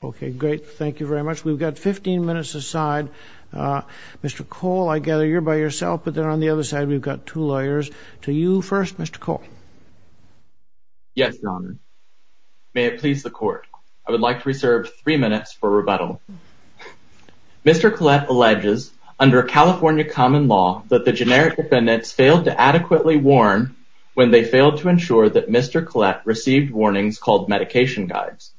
We've got 15 minutes aside. Mr. Cole, I gather you're by yourself, but then on the other side we've got two lawyers. To you first, Mr. Cole. Yes, Your Honor. May it please the Court, I would like to reserve three minutes for rebuttal. Mr. Collette alleges, under California common law, that the generic defendants failed to adequately warn when they failed to ensure that Mr. Collette received warnings called medication guides.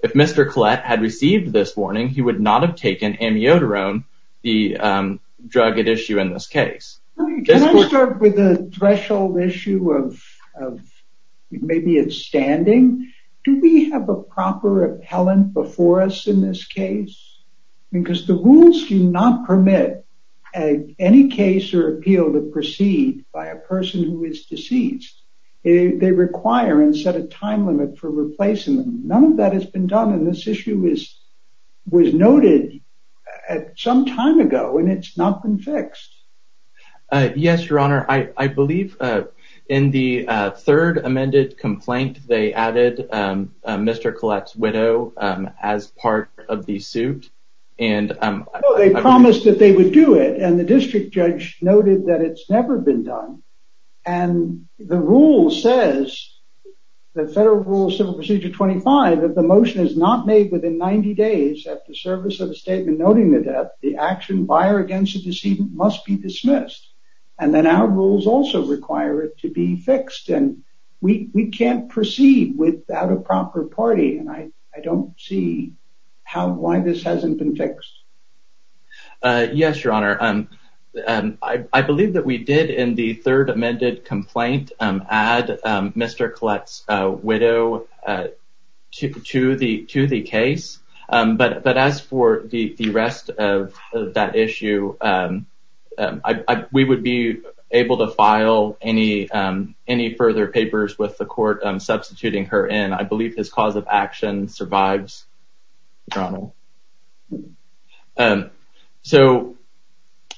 If Mr. Collette had received this warning, he would not have taken amiodarone, the drug at issue in this case. Can I start with the threshold issue of maybe it's standing? Do we have a proper appellant before us in this case? Because the rules do not permit any case or appeal to proceed by a person who is deceased. They require and set a time limit for replacing them. None of that has been done, and this issue was noted some time ago, and it's not been fixed. Yes, Your Honor. I believe in the third amended complaint, they added Mr. Collette's widow as part of the suit. They promised that they would do it, and the district judge noted that it's never been done. And the rule says, the Federal Rule of Civil Procedure 25, that the motion is not made within 90 days at the service of a statement noting the death. The action by or against the decedent must be dismissed, and then our rules also require it to be fixed. And we can't proceed without a proper party, and I don't see why this hasn't been fixed. Yes, Your Honor. I believe that we did in the third amended complaint add Mr. Collette's widow to the case. But as for the rest of that issue, we would be able to file any further papers with the court substituting her in. I believe his cause of action survives, Your Honor. So,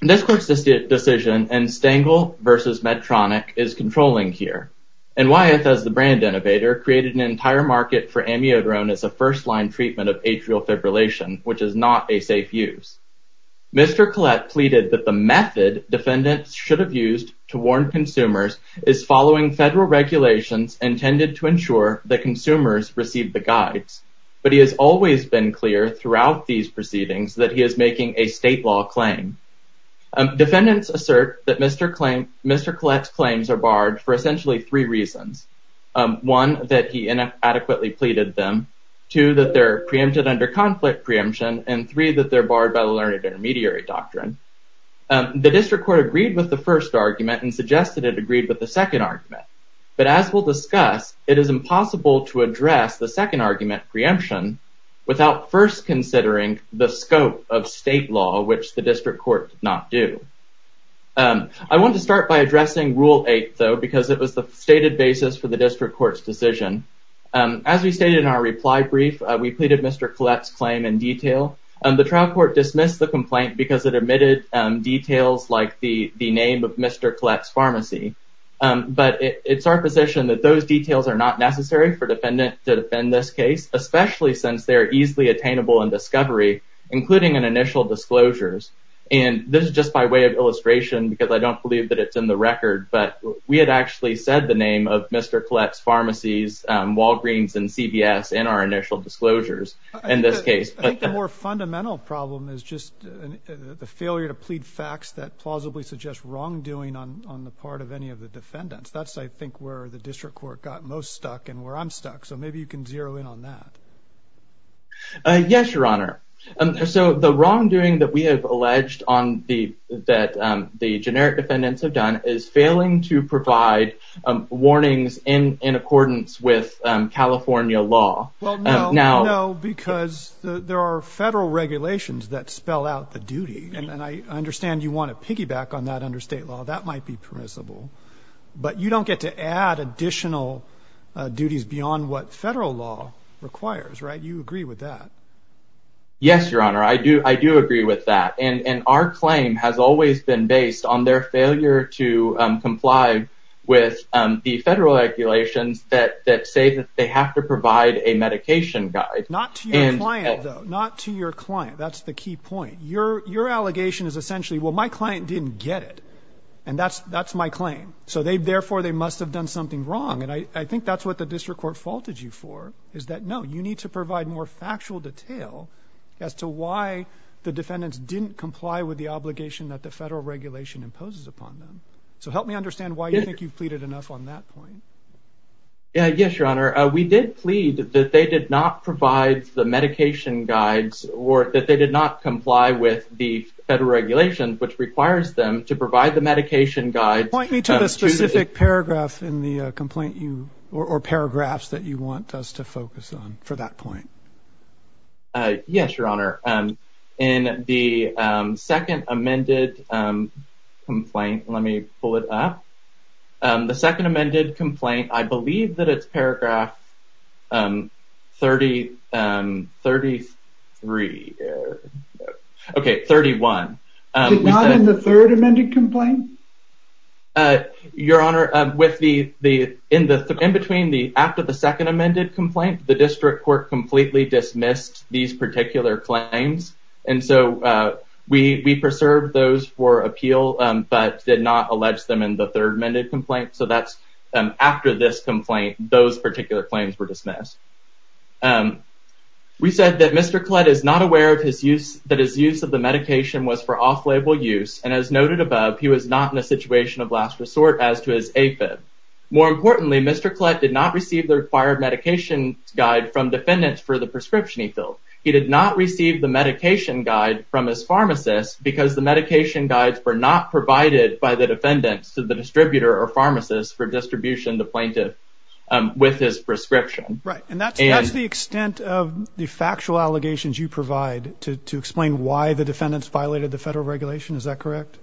this court's decision in Stengel v. Medtronic is controlling here. And Wyeth, as the brand innovator, created an entire market for amiodarone as a first-line treatment of atrial fibrillation, which is not a safe use. Mr. Collette pleaded that the method defendants should have used to warn consumers is following Federal regulations intended to ensure that consumers receive the guides. But it has always been clear throughout these proceedings that he is making a state law claim. Defendants assert that Mr. Collette's claims are barred for essentially three reasons. One, that he inadequately pleaded them. Two, that they're preempted under conflict preemption. And three, that they're barred by the learned intermediary doctrine. The district court agreed with the first argument and suggested it agreed with the second argument. But as we'll discuss, it is impossible to address the second argument, preemption, without first considering the scope of state law, which the district court did not do. I want to start by addressing Rule 8, though, because it was the stated basis for the district court's decision. As we stated in our reply brief, we pleaded Mr. Collette's claim in detail. The trial court dismissed the complaint because it omitted details like the name of Mr. Collette's pharmacy. But it's our position that those details are not necessary for a defendant to defend this case, especially since they are easily attainable in discovery, including in initial disclosures. And this is just by way of illustration because I don't believe that it's in the record, but we had actually said the name of Mr. Collette's pharmacies, Walgreens and CVS, in our initial disclosures in this case. I think the more fundamental problem is just the failure to plead facts that plausibly suggest wrongdoing on the part of any of the defendants. That's, I think, where the district court got most stuck and where I'm stuck. So maybe you can zero in on that. Yes, Your Honor. So the wrongdoing that we have alleged that the generic defendants have done is failing to provide warnings in accordance with California law. Well, no, no, because there are federal regulations that spell out the duty. And I understand you want to piggyback on that under state law. That might be permissible, but you don't get to add additional duties beyond what federal law requires. Right. You agree with that? Yes, Your Honor, I do. I do agree with that. And our claim has always been based on their failure to comply with the federal regulations that say that they have to provide a medication guide. Not to your client, though, not to your client. That's the key point. Your your allegation is essentially, well, my client didn't get it. And that's that's my claim. So they therefore they must have done something wrong. And I think that's what the district court faulted you for, is that, no, you need to provide more factual detail as to why the defendants didn't comply with the obligation that the federal regulation imposes upon them. So help me understand why you think you've pleaded enough on that point. Yes, Your Honor. We did plead that they did not provide the medication guides or that they did not comply with the federal regulations, which requires them to provide the medication guide. Point me to the specific paragraph in the complaint you or paragraphs that you want us to focus on for that point. Yes, Your Honor. In the second amended complaint, let me pull it up. The second amended complaint, I believe that it's paragraph 30, 33. OK, 31. Not in the third amended complaint. Your Honor, with the the in the in between the after the second amended complaint, the district court completely dismissed these particular claims. And so we preserved those for appeal, but did not allege them in the third amended complaint. So that's after this complaint, those particular claims were dismissed. We said that Mr. Collette is not aware of his use, that his use of the medication was for off-label use. And as noted above, he was not in a situation of last resort as to his AFib. More importantly, Mr. Collette did not receive the required medication guide from defendants for the prescription he filled. He did not receive the medication guide from his pharmacist because the medication guides were not provided by the defendants to the distributor or pharmacist for distribution the plaintiff with his prescription. Right. And that's the extent of the factual allegations you provide to explain why the defendants violated the federal regulation. Is that correct?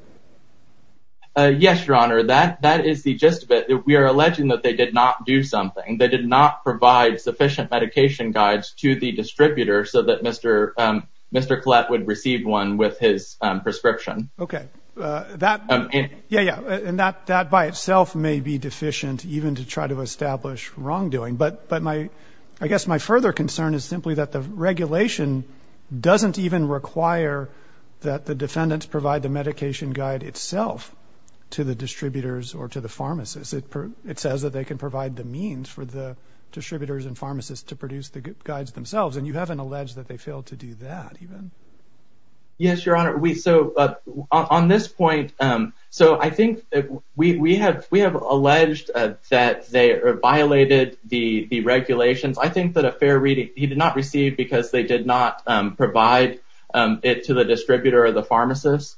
Yes, Your Honor. That that is the gist of it. We are alleging that they did not do something. They did not provide sufficient medication guides to the distributor so that Mr. Mr. Collette would receive one with his prescription. OK, that. Yeah. And that that by itself may be deficient even to try to establish wrongdoing. But but my I guess my further concern is simply that the regulation doesn't even require that the defendants provide the medication guide itself to the distributors or to the pharmacist. It says that they can provide the means for the distributors and pharmacists to produce the guides themselves. And you haven't alleged that they failed to do that even. Yes, Your Honor. We so on this point. So I think we have we have alleged that they violated the regulations. I think that a fair reading he did not receive because they did not provide it to the distributor or the pharmacist.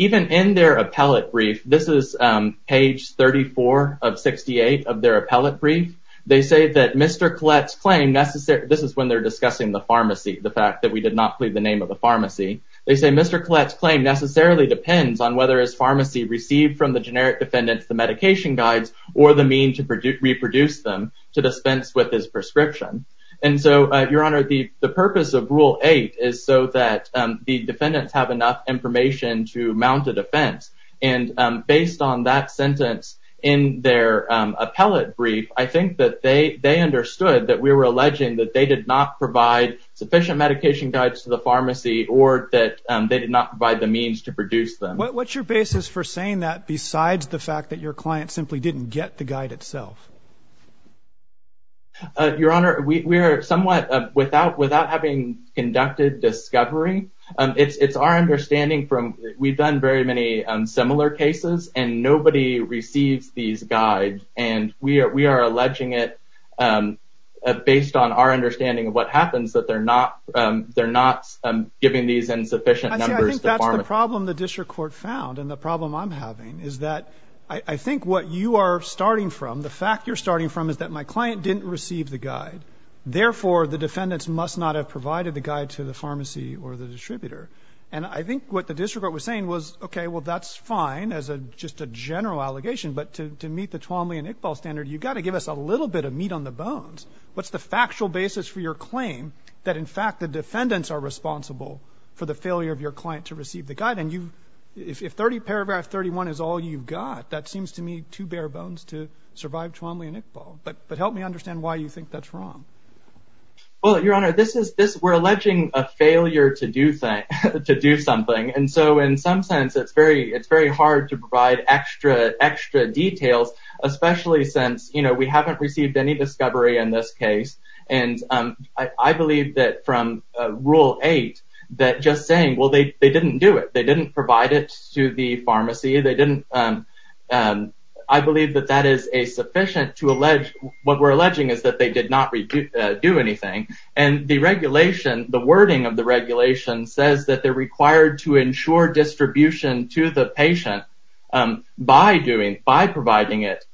Even in their appellate brief, this is page thirty four of sixty eight of their appellate brief. They say that Mr. Collette's claim necessary. This is when they're discussing the pharmacy. The fact that we did not plead the name of the pharmacy. They say Mr. Collette's claim necessarily depends on whether his pharmacy received from the generic defendants, the medication guides or the mean to reproduce them to dispense with his prescription. And so, Your Honor, the purpose of rule eight is so that the defendants have enough information to mount a defense. And based on that sentence in their appellate brief, I think that they they understood that we were alleging that they did not provide sufficient medication guides to the pharmacy or that they did not provide the means to produce them. What's your basis for saying that besides the fact that your client simply didn't get the guide itself? Your Honor, we are somewhat without without having conducted discovery. It's our understanding from we've done very many similar cases and nobody receives these guides. And we are we are alleging it based on our understanding of what happens, that they're not they're not giving these insufficient. I think that's the problem the district court found. And the problem I'm having is that I think what you are starting from, the fact you're starting from is that my client didn't receive the guide. Therefore, the defendants must not have provided the guide to the pharmacy or the distributor. And I think what the district court was saying was, OK, well, that's fine as a just a general allegation. But to meet the Twombly and Iqbal standard, you've got to give us a little bit of meat on the bones. What's the factual basis for your claim that, in fact, the defendants are responsible for the failure of your client to receive the guide? And you if 30 paragraph 31 is all you've got, that seems to me too bare bones to survive Twombly and Iqbal. But help me understand why you think that's wrong. Well, Your Honor, this is this we're alleging a failure to do that, to do something. And so in some sense, it's very it's very hard to provide extra extra details, especially since, you know, we haven't received any discovery in this case. And I believe that from rule eight that just saying, well, they didn't do it. They didn't provide it to the pharmacy. They didn't. I believe that that is a sufficient to allege what we're alleging is that they did not do anything. And the regulation, the wording of the regulation says that they're required to ensure distribution to the patient by doing, by providing it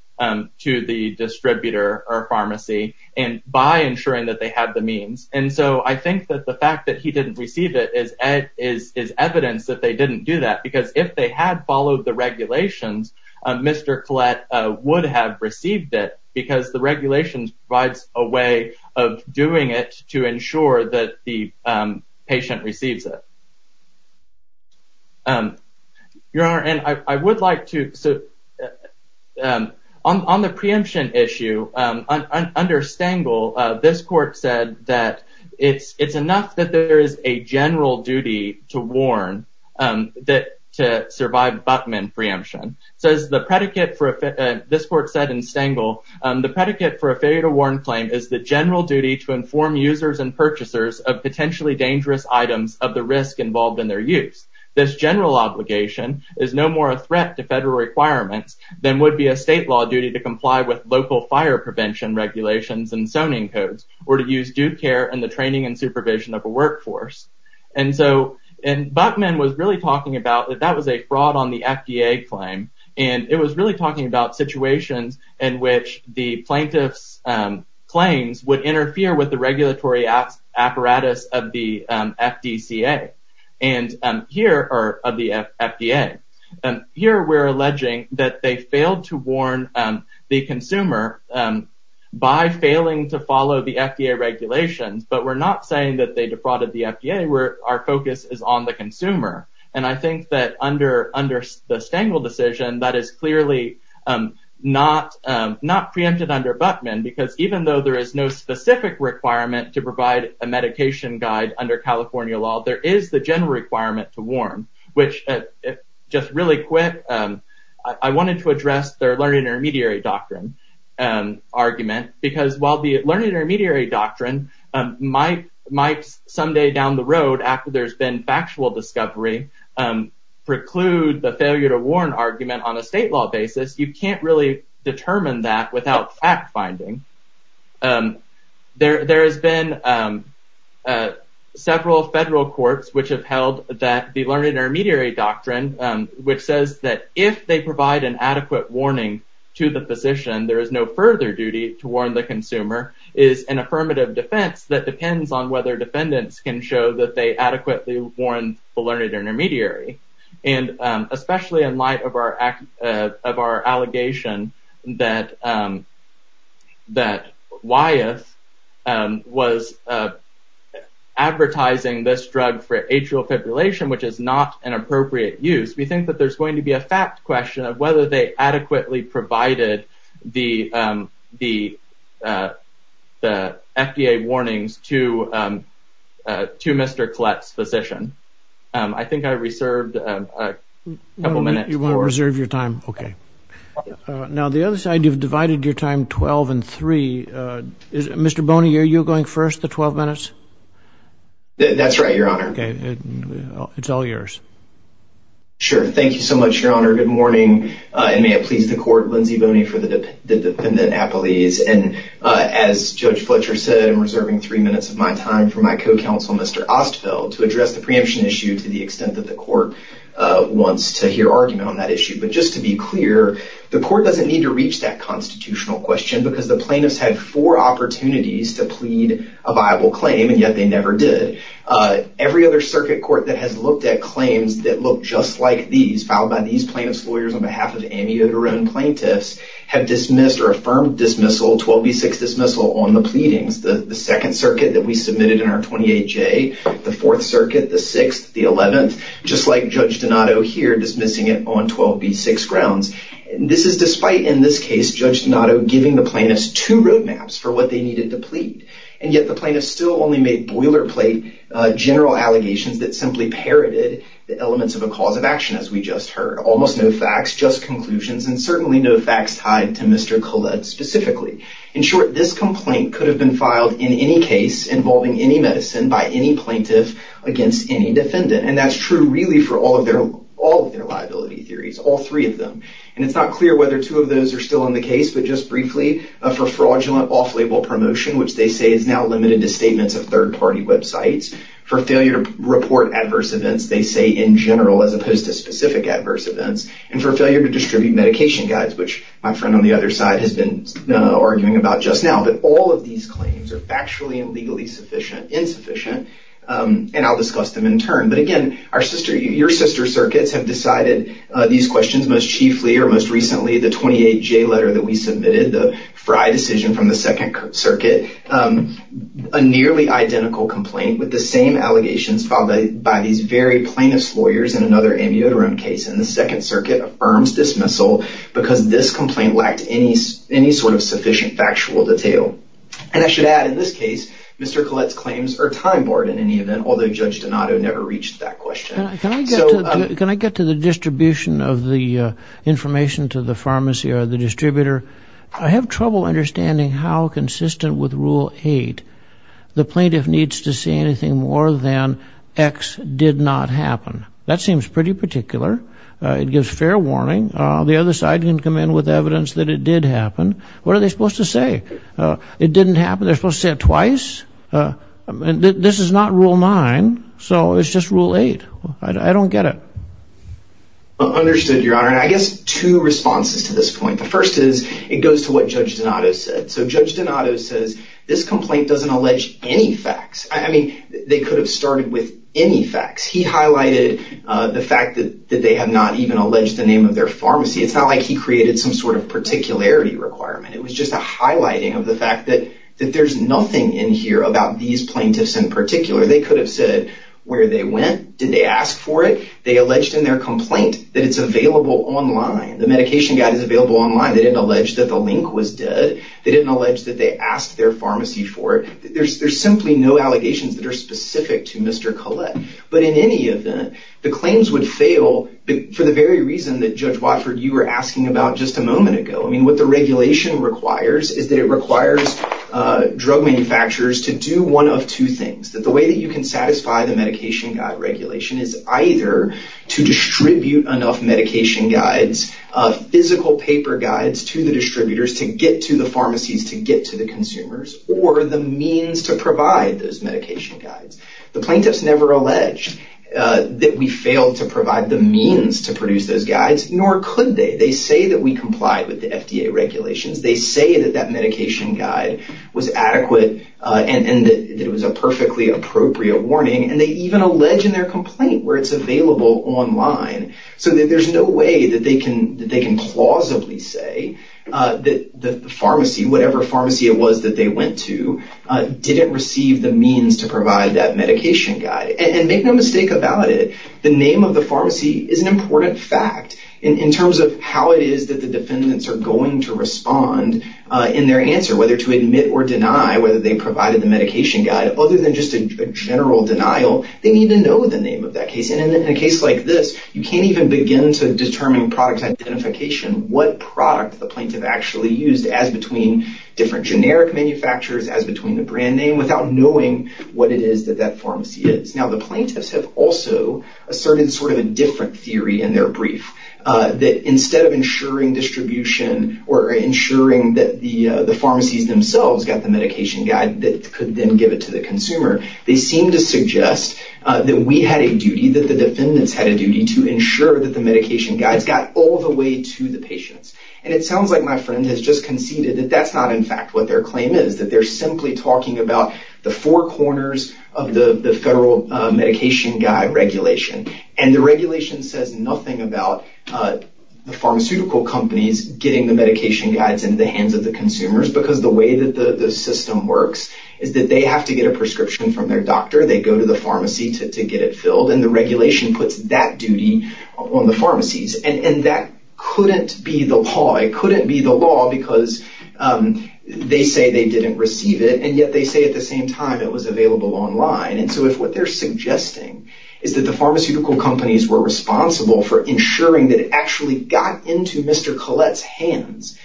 to the distributor or pharmacy and by ensuring that they have the means. And so I think that the fact that he didn't receive it is as is evidence that they didn't do that, because if they had followed the regulations, Mr. Collette would have received it, because the regulations provides a way of doing it to ensure that the patient receives it. Your Honor, and I would like to sit on the preemption issue under Stengel. This court said that it's it's enough that there is a general duty to warn that to survive Buckman preemption. So as the predicate for this court said in Stengel, the predicate for a failure to warn claim is the general duty to inform users and purchasers of potentially dangerous items of the risk involved in their use. This general obligation is no more a threat to federal requirements than would be a state law duty to comply with local fire prevention regulations and zoning codes, or to use due care and the training and supervision of a workforce. And so Buckman was really talking about that that was a fraud on the FDA claim. And it was really talking about situations in which the plaintiff's claims would interfere with the regulatory apparatus of the FDA. And here are the FDA. Here we're alleging that they failed to warn the consumer by failing to follow the FDA regulations. But we're not saying that they defrauded the FDA where our focus is on the consumer. And I think that under under the Stengel decision, that is clearly not not preempted under Buckman, because even though there is no specific requirement to provide a medication guide under California law, there is the general requirement to warn, which just really quick. I wanted to address their learning intermediary doctrine argument, because while the learning intermediary doctrine might might someday down the road after there's been factual discovery, preclude the failure to warn argument on a state law basis. You can't really determine that without fact finding there. There has been several federal courts which have held that the learning intermediary doctrine, which says that if they provide an adequate warning to the position, there is no further duty to warn. The consumer is an affirmative defense that depends on whether defendants can show that they adequately warn the learning intermediary. And especially in light of our of our allegation that that Wyeth was advertising this drug for atrial fibrillation, which is not an appropriate use. We think that there's going to be a fact question of whether they adequately provided the the the FDA warnings to to Mr. Fletch's physician. I think I reserved a couple minutes. You want to reserve your time. OK. Now, the other side, you've divided your time 12 and three. Mr. Boney, are you going first? The 12 minutes? That's right, Your Honor. It's all yours. Sure. Thank you so much, Your Honor. Good morning. And may it please the court. Lindsay Boney for the defendant. And as Judge Fletcher said, I'm reserving three minutes of my time for my co-counsel, Mr. Ostfeld, to address the preemption issue to the extent that the court wants to hear argument on that issue. But just to be clear, the court doesn't need to reach that constitutional question because the plaintiffs had four opportunities to plead a viable claim. And yet they never did. Every other circuit court that has looked at claims that look just like these filed by these plaintiffs, lawyers on behalf of amiodarone plaintiffs, have dismissed or affirmed dismissal, 12B6 dismissal on the pleadings. The second circuit that we submitted in our 28J, the Fourth Circuit, the sixth, the eleventh, just like Judge Donato here dismissing it on 12B6 grounds. This is despite, in this case, Judge Donato giving the plaintiffs two roadmaps for what they needed to plead. And yet the plaintiffs still only made boilerplate general allegations that simply parroted the elements of a cause of action, as we just heard. Almost no facts, just conclusions, and certainly no facts tied to Mr. Collette specifically. In short, this complaint could have been filed in any case involving any medicine by any plaintiff against any defendant. And that's true really for all of their liability theories, all three of them. And it's not clear whether two of those are still in the case, but just briefly, for fraudulent off-label promotion, which they say is now limited to statements of third-party websites, for failure to report adverse events, they say in general as opposed to specific adverse events, and for failure to distribute medication guides, which my friend on the other side has been arguing about just now. But all of these claims are factually and legally insufficient, and I'll discuss them in turn. But again, your sister circuits have decided these questions most chiefly or most recently, the 28J letter that we submitted, the Frye decision from the Second Circuit, a nearly identical complaint with the same allegations filed by these very plaintiff's lawyers in another amiodarone case. And the Second Circuit affirms dismissal because this complaint lacked any sort of sufficient factual detail. And I should add, in this case, Mr. Collette's claims are time-borne in any event, although Judge Donato never reached that question. Can I get to the distribution of the information to the pharmacy or the distributor? I have trouble understanding how consistent with Rule 8 the plaintiff needs to say anything more than X did not happen. That seems pretty particular. It gives fair warning. The other side can come in with evidence that it did happen. What are they supposed to say? It didn't happen? They're supposed to say it twice? This is not Rule 9, so it's just Rule 8. I don't get it. Understood, Your Honor. And I guess two responses to this point. The first is it goes to what Judge Donato said. So Judge Donato says this complaint doesn't allege any facts. I mean, they could have started with any facts. He highlighted the fact that they have not even alleged the name of their pharmacy. It's not like he created some sort of particularity requirement. It was just a highlighting of the fact that there's nothing in here about these plaintiffs in particular. They could have said where they went. Did they ask for it? They alleged in their complaint that it's available online. The medication guide is available online. They didn't allege that the link was dead. They didn't allege that they asked their pharmacy for it. There's simply no allegations that are specific to Mr. Collette. But in any event, the claims would fail for the very reason that Judge Watford, you were asking about just a moment ago. I mean, what the regulation requires is that it requires drug manufacturers to do one of two things. That the way that you can satisfy the medication guide regulation is either to distribute enough medication guides, physical paper guides to the distributors to get to the pharmacies, to get to the consumers, or the means to provide those medication guides. The plaintiffs never alleged that we failed to provide the means to produce those guides, nor could they. They say that we complied with the FDA regulations. They say that that medication guide was adequate and that it was a perfectly appropriate warning. And they even allege in their complaint where it's available online. So there's no way that they can plausibly say that the pharmacy, whatever pharmacy it was that they went to, didn't receive the means to provide that medication guide. And make no mistake about it, the name of the pharmacy is an important fact. In terms of how it is that the defendants are going to respond in their answer, whether to admit or deny whether they provided the medication guide, other than just a general denial, they need to know the name of that case. And in a case like this, you can't even begin to determine product identification, what product the plaintiff actually used as between different generic manufacturers, as between the brand name, without knowing what it is that that pharmacy is. Now, the plaintiffs have also asserted sort of a different theory in their brief, that instead of ensuring distribution or ensuring that the pharmacies themselves got the medication guide that could then give it to the consumer, they seem to suggest that we had a duty, that the defendants had a duty to ensure that the medication guides got all the way to the patients. And it sounds like my friend has just conceded that that's not in fact what their claim is, that they're simply talking about the four corners of the federal medication guide regulation. And the regulation says nothing about the pharmaceutical companies getting the medication guides into the hands of the consumers, because the way that the system works is that they have to get a prescription from their doctor, they go to the pharmacy to get it filled, and the regulation puts that duty on the pharmacies. And that couldn't be the law. It couldn't be the law, because they say they didn't receive it, and yet they say at the same time it was available online. And so if what they're suggesting is that the pharmaceutical companies were responsible for ensuring that it actually got into Mr. Collette's hands,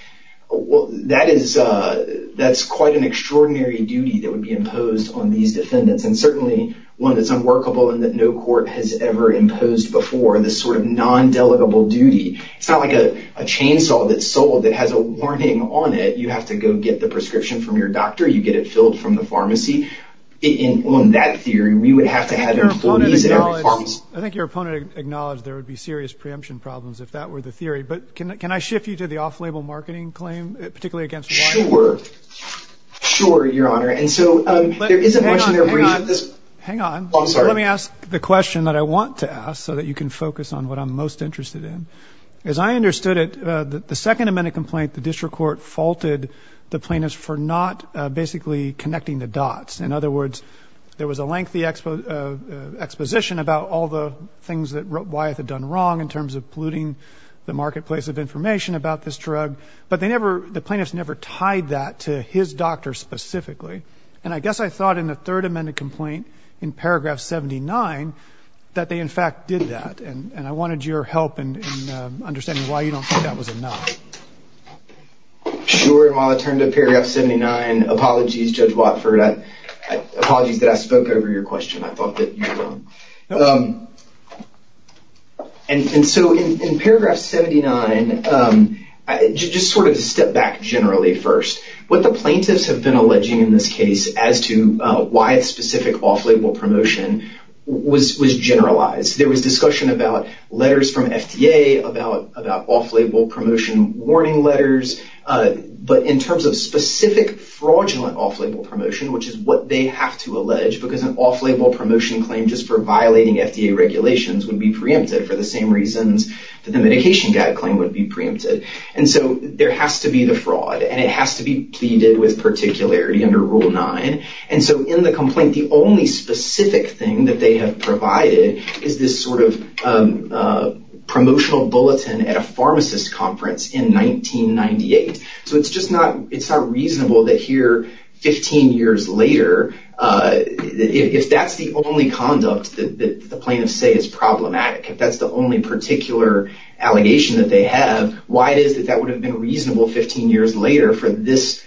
that's quite an extraordinary duty that would be imposed on these defendants, and certainly one that's unworkable and that no court has ever imposed before, this sort of non-delegable duty. It's not like a chainsaw that's sold that has a warning on it. You have to go get the prescription from your doctor, you get it filled from the pharmacy. On that theory, we would have to have employees at every pharmacy. I think your opponent acknowledged there would be serious preemption problems if that were the theory. But can I shift you to the off-label marketing claim, particularly against Warren? Sure. Sure, Your Honor. And so there isn't much in there for you at this point. Hang on. Let me ask the question that I want to ask so that you can focus on what I'm most interested in. As I understood it, the Second Amendment complaint, the district court faulted the plaintiffs for not basically connecting the dots. In other words, there was a lengthy exposition about all the things that Wyeth had done wrong in terms of polluting the marketplace of information about this drug. But they never the plaintiffs never tied that to his doctor specifically. And I guess I thought in the Third Amendment complaint in paragraph 79 that they in fact did that. And I wanted your help in understanding why you don't think that was enough. Sure. And while I turn to paragraph 79, apologies, Judge Watford. Apologies that I spoke over your question. I thought that you were wrong. And so in paragraph 79, just sort of step back generally first. What the plaintiffs have been alleging in this case as to why specific off-label promotion was generalized. There was discussion about letters from FDA about off-label promotion warning letters. But in terms of specific fraudulent off-label promotion, which is what they have to allege, because an off-label promotion claim just for violating FDA regulations would be preempted for the same reasons that the medication gag claim would be preempted. And so there has to be the fraud and it has to be pleaded with particularity under Rule 9. And so in the complaint, the only specific thing that they have provided is this sort of promotional bulletin at a pharmacist conference in 1998. So it's just not it's not reasonable that here 15 years later, if that's the only conduct that the plaintiffs say is problematic, if that's the only particular allegation that they have, why it is that that would have been reasonable 15 years later for this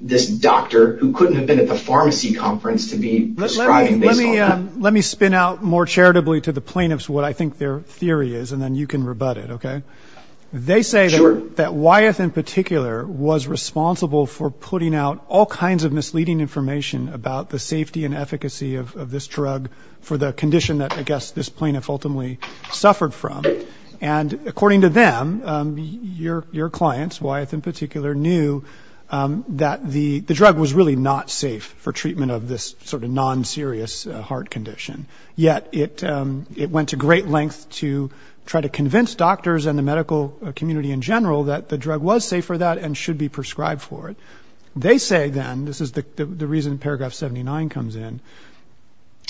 this doctor who couldn't have been at the pharmacy conference to be prescribing. Let me spin out more charitably to the plaintiffs what I think their theory is and then you can rebut it. Okay. They say that Wyeth in particular was responsible for putting out all kinds of misleading information about the safety and efficacy of this drug for the condition that, I guess, this plaintiff ultimately suffered from. And according to them, your clients, Wyeth in particular, knew that the drug was really not safe for treatment of this sort of non-serious heart condition. Yet it went to great length to try to convince doctors and the medical community in general that the drug was safe for that and should be prescribed for it. They say then, this is the reason paragraph 79 comes in,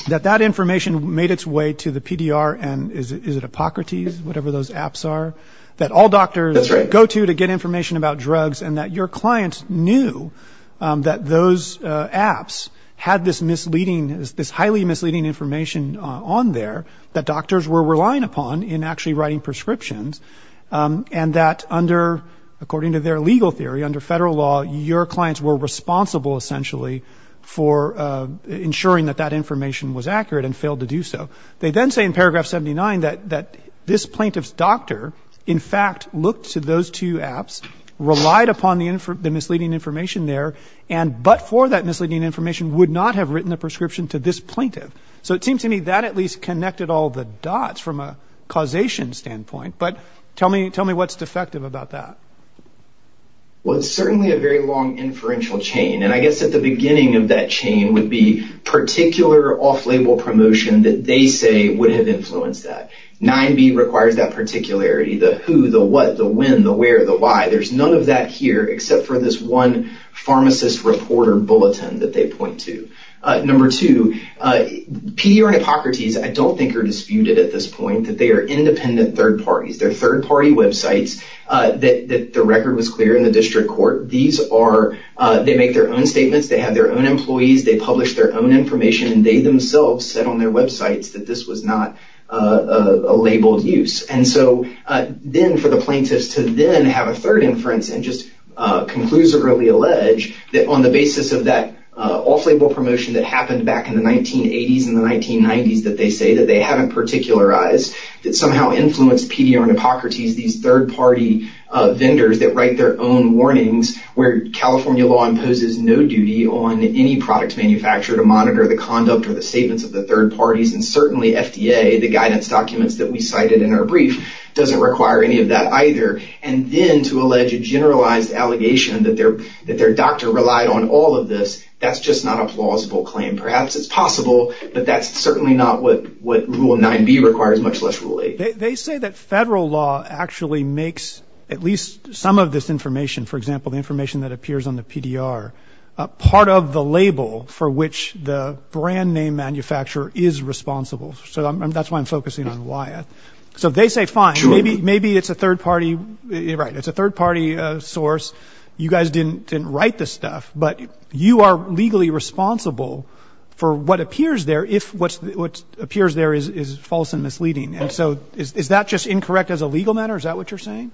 that that information made its way to the PDR and is it Hippocrates, whatever those apps are, that all doctors go to to get information about drugs and that your clients knew that those apps had this misleading, this highly misleading information on there that doctors were relying upon in actually writing prescriptions and that under, according to their legal theory, under federal law, your clients were responsible essentially for ensuring that that information was accurate and failed to do so. They then say in paragraph 79 that this plaintiff's doctor, in fact, looked to those two apps, relied upon the misleading information there, and but for that misleading information would not have written the prescription to this plaintiff. So it seems to me that at least connected all the dots from a causation standpoint. But tell me, tell me what's defective about that. Well, it's certainly a very long inferential chain, and I guess at the beginning of that chain would be particular off-label promotion that they say would have influenced that. 9B requires that particularity, the who, the what, the when, the where, the why. There's none of that here except for this one pharmacist reporter bulletin that they point to. Number two, Pedia and Hippocrates I don't think are disputed at this point, that they are independent third parties. They're third party websites that the record was clear in the district court. These are, they make their own statements. They have their own employees. They publish their own information, and they themselves said on their websites that this was not a labeled use. And so then for the plaintiffs to then have a third inference and just conclusively allege that on the basis of that off-label promotion that happened back in the 1980s and the 1990s that they say that they haven't particularized, that somehow influenced Pedia and Hippocrates, these third party vendors that write their own warnings where California law imposes no duty on any product manufacturer to monitor the conduct or the statements of the third parties. And certainly FDA, the guidance documents that we cited in our brief, doesn't require any of that either. And then to allege a generalized allegation that their doctor relied on all of this, that's just not a plausible claim. Perhaps it's possible, but that's certainly not what Rule 9b requires, much less Rule 8. They say that federal law actually makes at least some of this information, for example, the information that appears on the PDR, part of the label for which the brand name manufacturer is responsible. So that's why I'm focusing on why. So they say, fine, maybe it's a third party. Right. It's a third party source. You guys didn't write this stuff, but you are legally responsible for what appears there if what appears there is false and misleading. And so is that just incorrect as a legal matter? Is that what you're saying?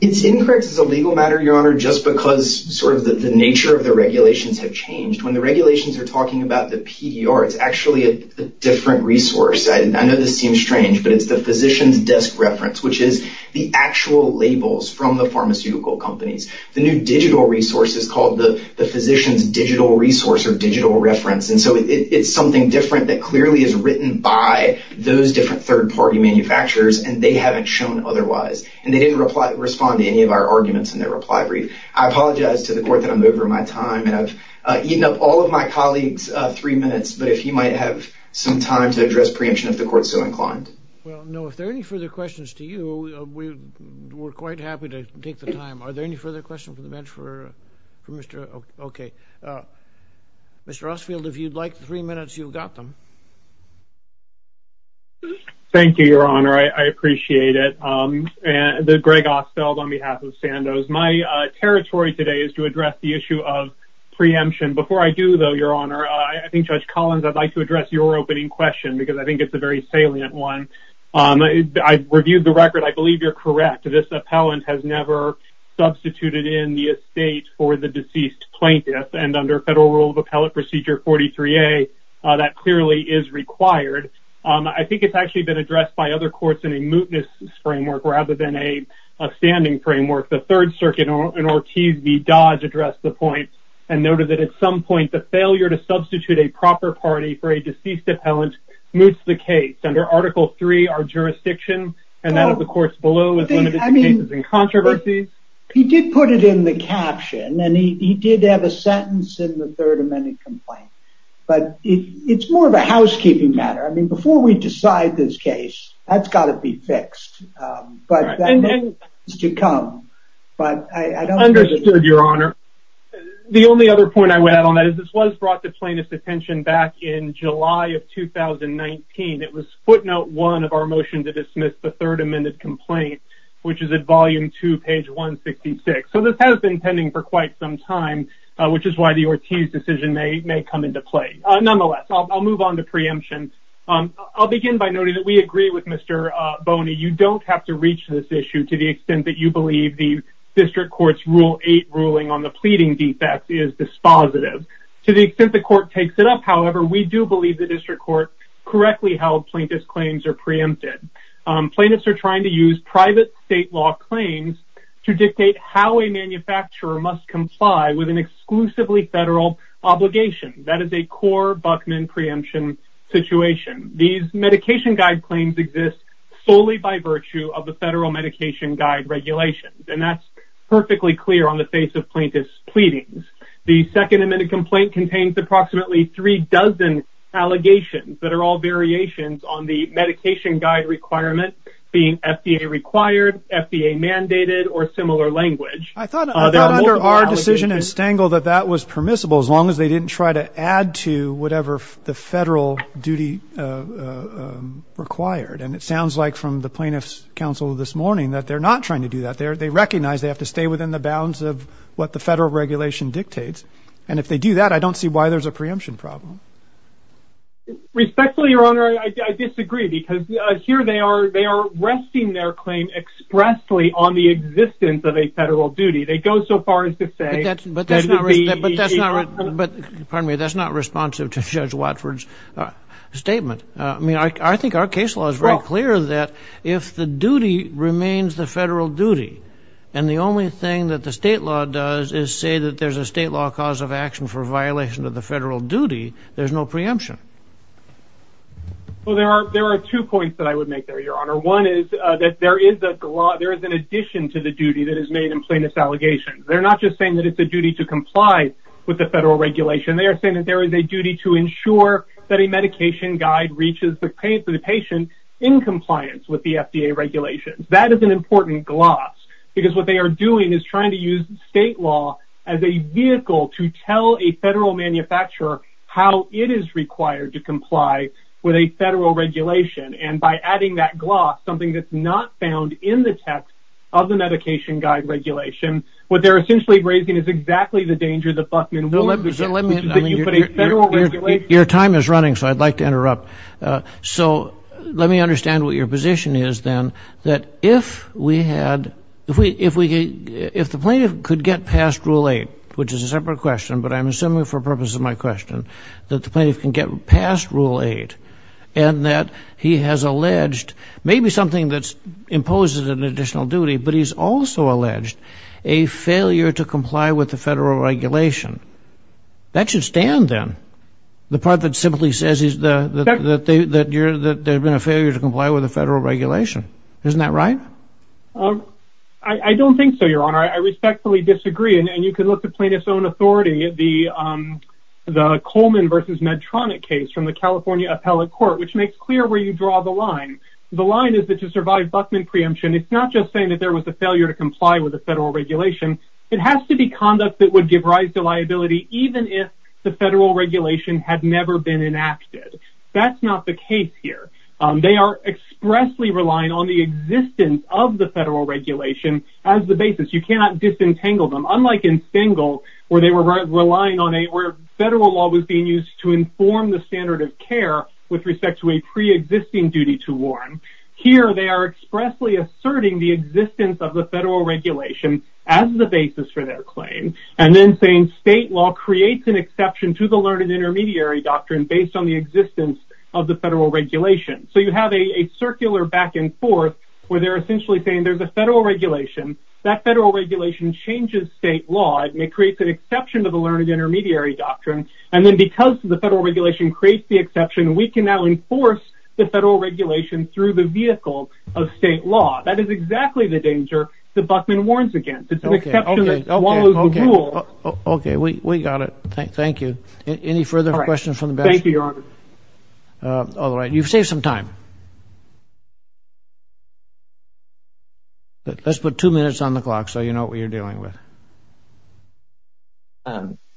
It's incorrect as a legal matter, Your Honor, just because sort of the nature of the regulations have changed. When the regulations are talking about the PDR, it's actually a different resource. I know this seems strange, but it's the physician's desk reference, which is the actual labels from the pharmaceutical companies. The new digital resource is called the physician's digital resource or digital reference. And so it's something different that clearly is written by those different third party manufacturers and they haven't shown otherwise. And they didn't reply, respond to any of our arguments in their reply brief. I apologize to the court that I'm over my time and I've eaten up all of my colleagues three minutes. But if you might have some time to address preemption of the court so inclined. Well, no. If there are any further questions to you, we were quite happy to take the time. Are there any further questions from the bench for Mr. OK. Mr. Osfield, if you'd like three minutes, you've got them. Thank you, Your Honor. I appreciate it. And Greg Ostfeld on behalf of Sandoz, my territory today is to address the issue of preemption. Before I do, though, Your Honor, I think Judge Collins, I'd like to address your opening question because I think it's a very salient one. I reviewed the record. I believe you're correct. This appellant has never substituted in the estate for the deceased plaintiff. And under federal rule of appellate procedure, 43A, that clearly is required. I think it's actually been addressed by other courts in a mootness framework rather than a standing framework. The Third Circuit in Ortiz v. Dodge addressed the point and noted that at some point, the failure to substitute a proper party for a deceased appellant moots the case. Under Article 3, our jurisdiction and that of the courts below is limited to cases in controversy. He did put it in the caption and he did have a sentence in the third amended complaint. But it's more of a housekeeping matter. I mean, before we decide this case, that's got to be fixed. But that is to come. But I understood, Your Honor. The only other point I would add on that is this was brought to plaintiff's attention back in July of 2019. It was footnote one of our motion to dismiss the third amended complaint, which is at volume two, page 166. So this has been pending for quite some time, which is why the Ortiz decision may come into play. Nonetheless, I'll move on to preemption. I'll begin by noting that we agree with Mr. Boney. You don't have to reach this issue to the extent that you believe the district court's Rule 8 ruling on the pleading defects is dispositive. To the extent the court takes it up, however, we do believe the district court correctly held plaintiff's claims are preempted. Plaintiffs are trying to use private state law claims to dictate how a manufacturer must comply with an exclusively federal obligation. That is a core Buckman preemption situation. These medication guide claims exist solely by virtue of the federal medication guide regulations. And that's perfectly clear on the face of plaintiff's pleadings. The second amended complaint contains approximately three dozen allegations that are all variations on the medication guide requirement being FDA required, FDA mandated or similar language. I thought that our decision and stangle that that was permissible as long as they didn't try to add to whatever the federal duty required. And it sounds like from the plaintiff's counsel this morning that they're not trying to do that there. They recognize they have to stay within the bounds of what the federal regulation dictates. And if they do that, I don't see why there's a preemption problem. Respectfully, Your Honor, I disagree because here they are. They are resting their claim expressly on the existence of a federal duty. They go so far as to say that. But that's not right. But that's not right. But that's not responsive to Judge Watford's statement. I mean, I think our case law is very clear that if the duty remains the federal duty and the only thing that the state law does is say that there's a state law cause of action for violation of the federal duty, there's no preemption. Well, there are there are two points that I would make there, Your Honor. One is that there is a law. There is an addition to the duty that is made in plaintiff's allegations. They're not just saying that it's a duty to comply with the federal regulation. They are saying that there is a duty to ensure that a medication guide reaches the patient in compliance with the FDA regulations. That is an important gloss because what they are doing is trying to use state law as a vehicle to tell a federal manufacturer how it is required to comply with a federal regulation. And by adding that gloss, something that's not found in the text of the medication guide regulation, what they're essentially raising is exactly the danger that Buckman will. Your time is running, so I'd like to interrupt. So let me understand what your position is, then, that if we had if we if we if the plaintiff could get past rule eight, which is a separate question. But I'm assuming for purposes of my question that the plaintiff can get past rule eight and that he has alleged maybe something that's imposed as an additional duty. But he's also alleged a failure to comply with the federal regulation. That should stand them. The part that simply says is that they that you're that they've been a failure to comply with the federal regulation. Isn't that right? I don't think so, Your Honor. I respectfully disagree. And you can look to plaintiff's own authority. The the Coleman versus Medtronic case from the California appellate court, which makes clear where you draw the line. The line is that to survive Buckman preemption. It's not just saying that there was a failure to comply with the federal regulation. It has to be conduct that would give rise to liability, even if the federal regulation had never been enacted. That's not the case here. They are expressly relying on the existence of the federal regulation as the basis. You cannot disentangle them. Unlike in Stengel, where they were relying on a where federal law was being used to inform the standard of care with respect to a preexisting duty to warn. Here they are expressly asserting the existence of the federal regulation as the basis for their claim. And then saying state law creates an exception to the learned intermediary doctrine based on the existence of the federal regulation. So you have a circular back and forth where they're essentially saying there's a federal regulation. That federal regulation changes state law. It may create an exception to the learned intermediary doctrine. And then because the federal regulation creates the exception, we can now enforce the federal regulation through the vehicle of state law. That is exactly the danger that Buckman warns against. It's OK. OK. OK. We got it. Thank you. Any further questions from the. Thank you, Your Honor. All right. You've saved some time. Let's put two minutes on the clock so you know what you're dealing with.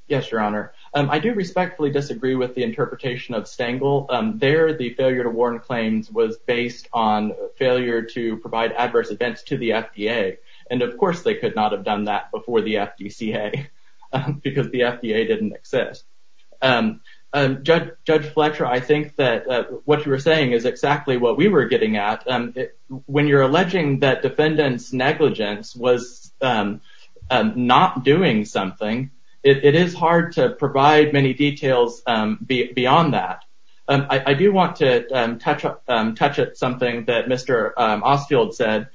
Yes, Your Honor. I do respectfully disagree with the interpretation of Stengel. There, the failure to warn claims was based on failure to provide adverse events to the FDA. And of course, they could not have done that before the FDCA because the FDA didn't exist. Judge Fletcher, I think that what you were saying is exactly what we were getting at. When you're alleging that defendants negligence was not doing something, it is hard to provide many details beyond that. I do want to touch on touch on something that Mr. Osfield said.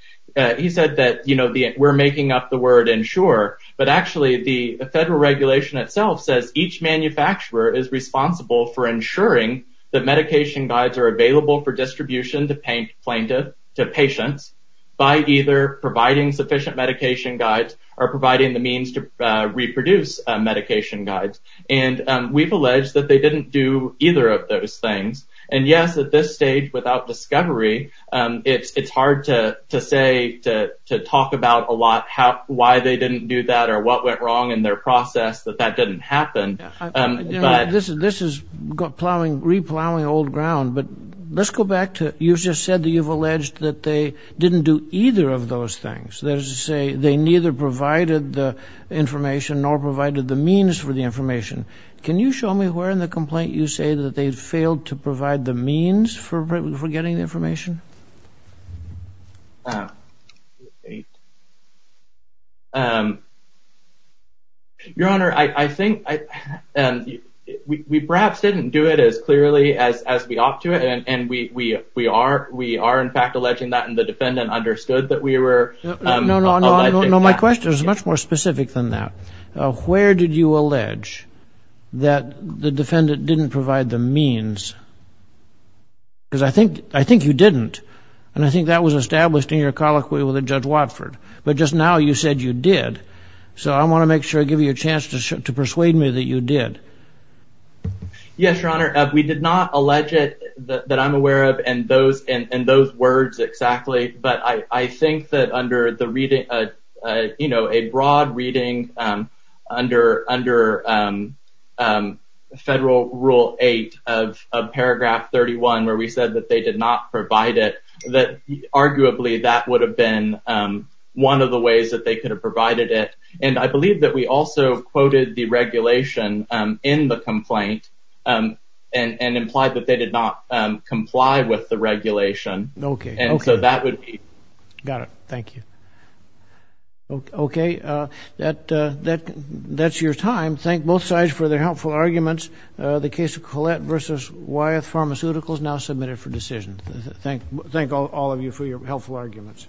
He said that, you know, we're making up the word ensure. But actually, the federal regulation itself says each manufacturer is responsible for ensuring that medication guides are available for distribution to paint plaintiff to patients by either providing sufficient medication guides or providing the means to reproduce medication guides. And we've alleged that they didn't do either of those things. And yes, at this stage, without discovery, it's hard to say, to talk about a lot, why they didn't do that or what went wrong in their process, that that didn't happen. This is plowing, re-plowing old ground. But let's go back to, you've just said that you've alleged that they didn't do either of those things. That is to say, they neither provided the information nor provided the means for the information. Can you show me where in the complaint you say that they failed to provide the means for getting the information? Your Honor, I think we perhaps didn't do it as clearly as we ought to. And we are in fact alleging that. And the defendant understood that we were. No, no, no, no. My question is much more specific than that. Where did you allege that the defendant didn't provide the means? Because I think you didn't. And I think that was established in your colloquy with Judge Watford. But just now you said you did. So I want to make sure I give you a chance to persuade me that you did. Yes, Your Honor, we did not allege it that I'm aware of in those words exactly. But I think that under the reading, you know, a broad reading under Federal Rule 8 of Paragraph 31 where we said that they did not provide it, that arguably that would have been one of the ways that they could have provided it. And I believe that we also quoted the regulation in the complaint and implied that they did not comply with the regulation. Okay. And so that would be. Got it. Thank you. Okay. That's your time. Thank both sides for their helpful arguments. The case of Collette v. Wyeth Pharmaceuticals now submitted for decision. Thank all of you for your helpful arguments.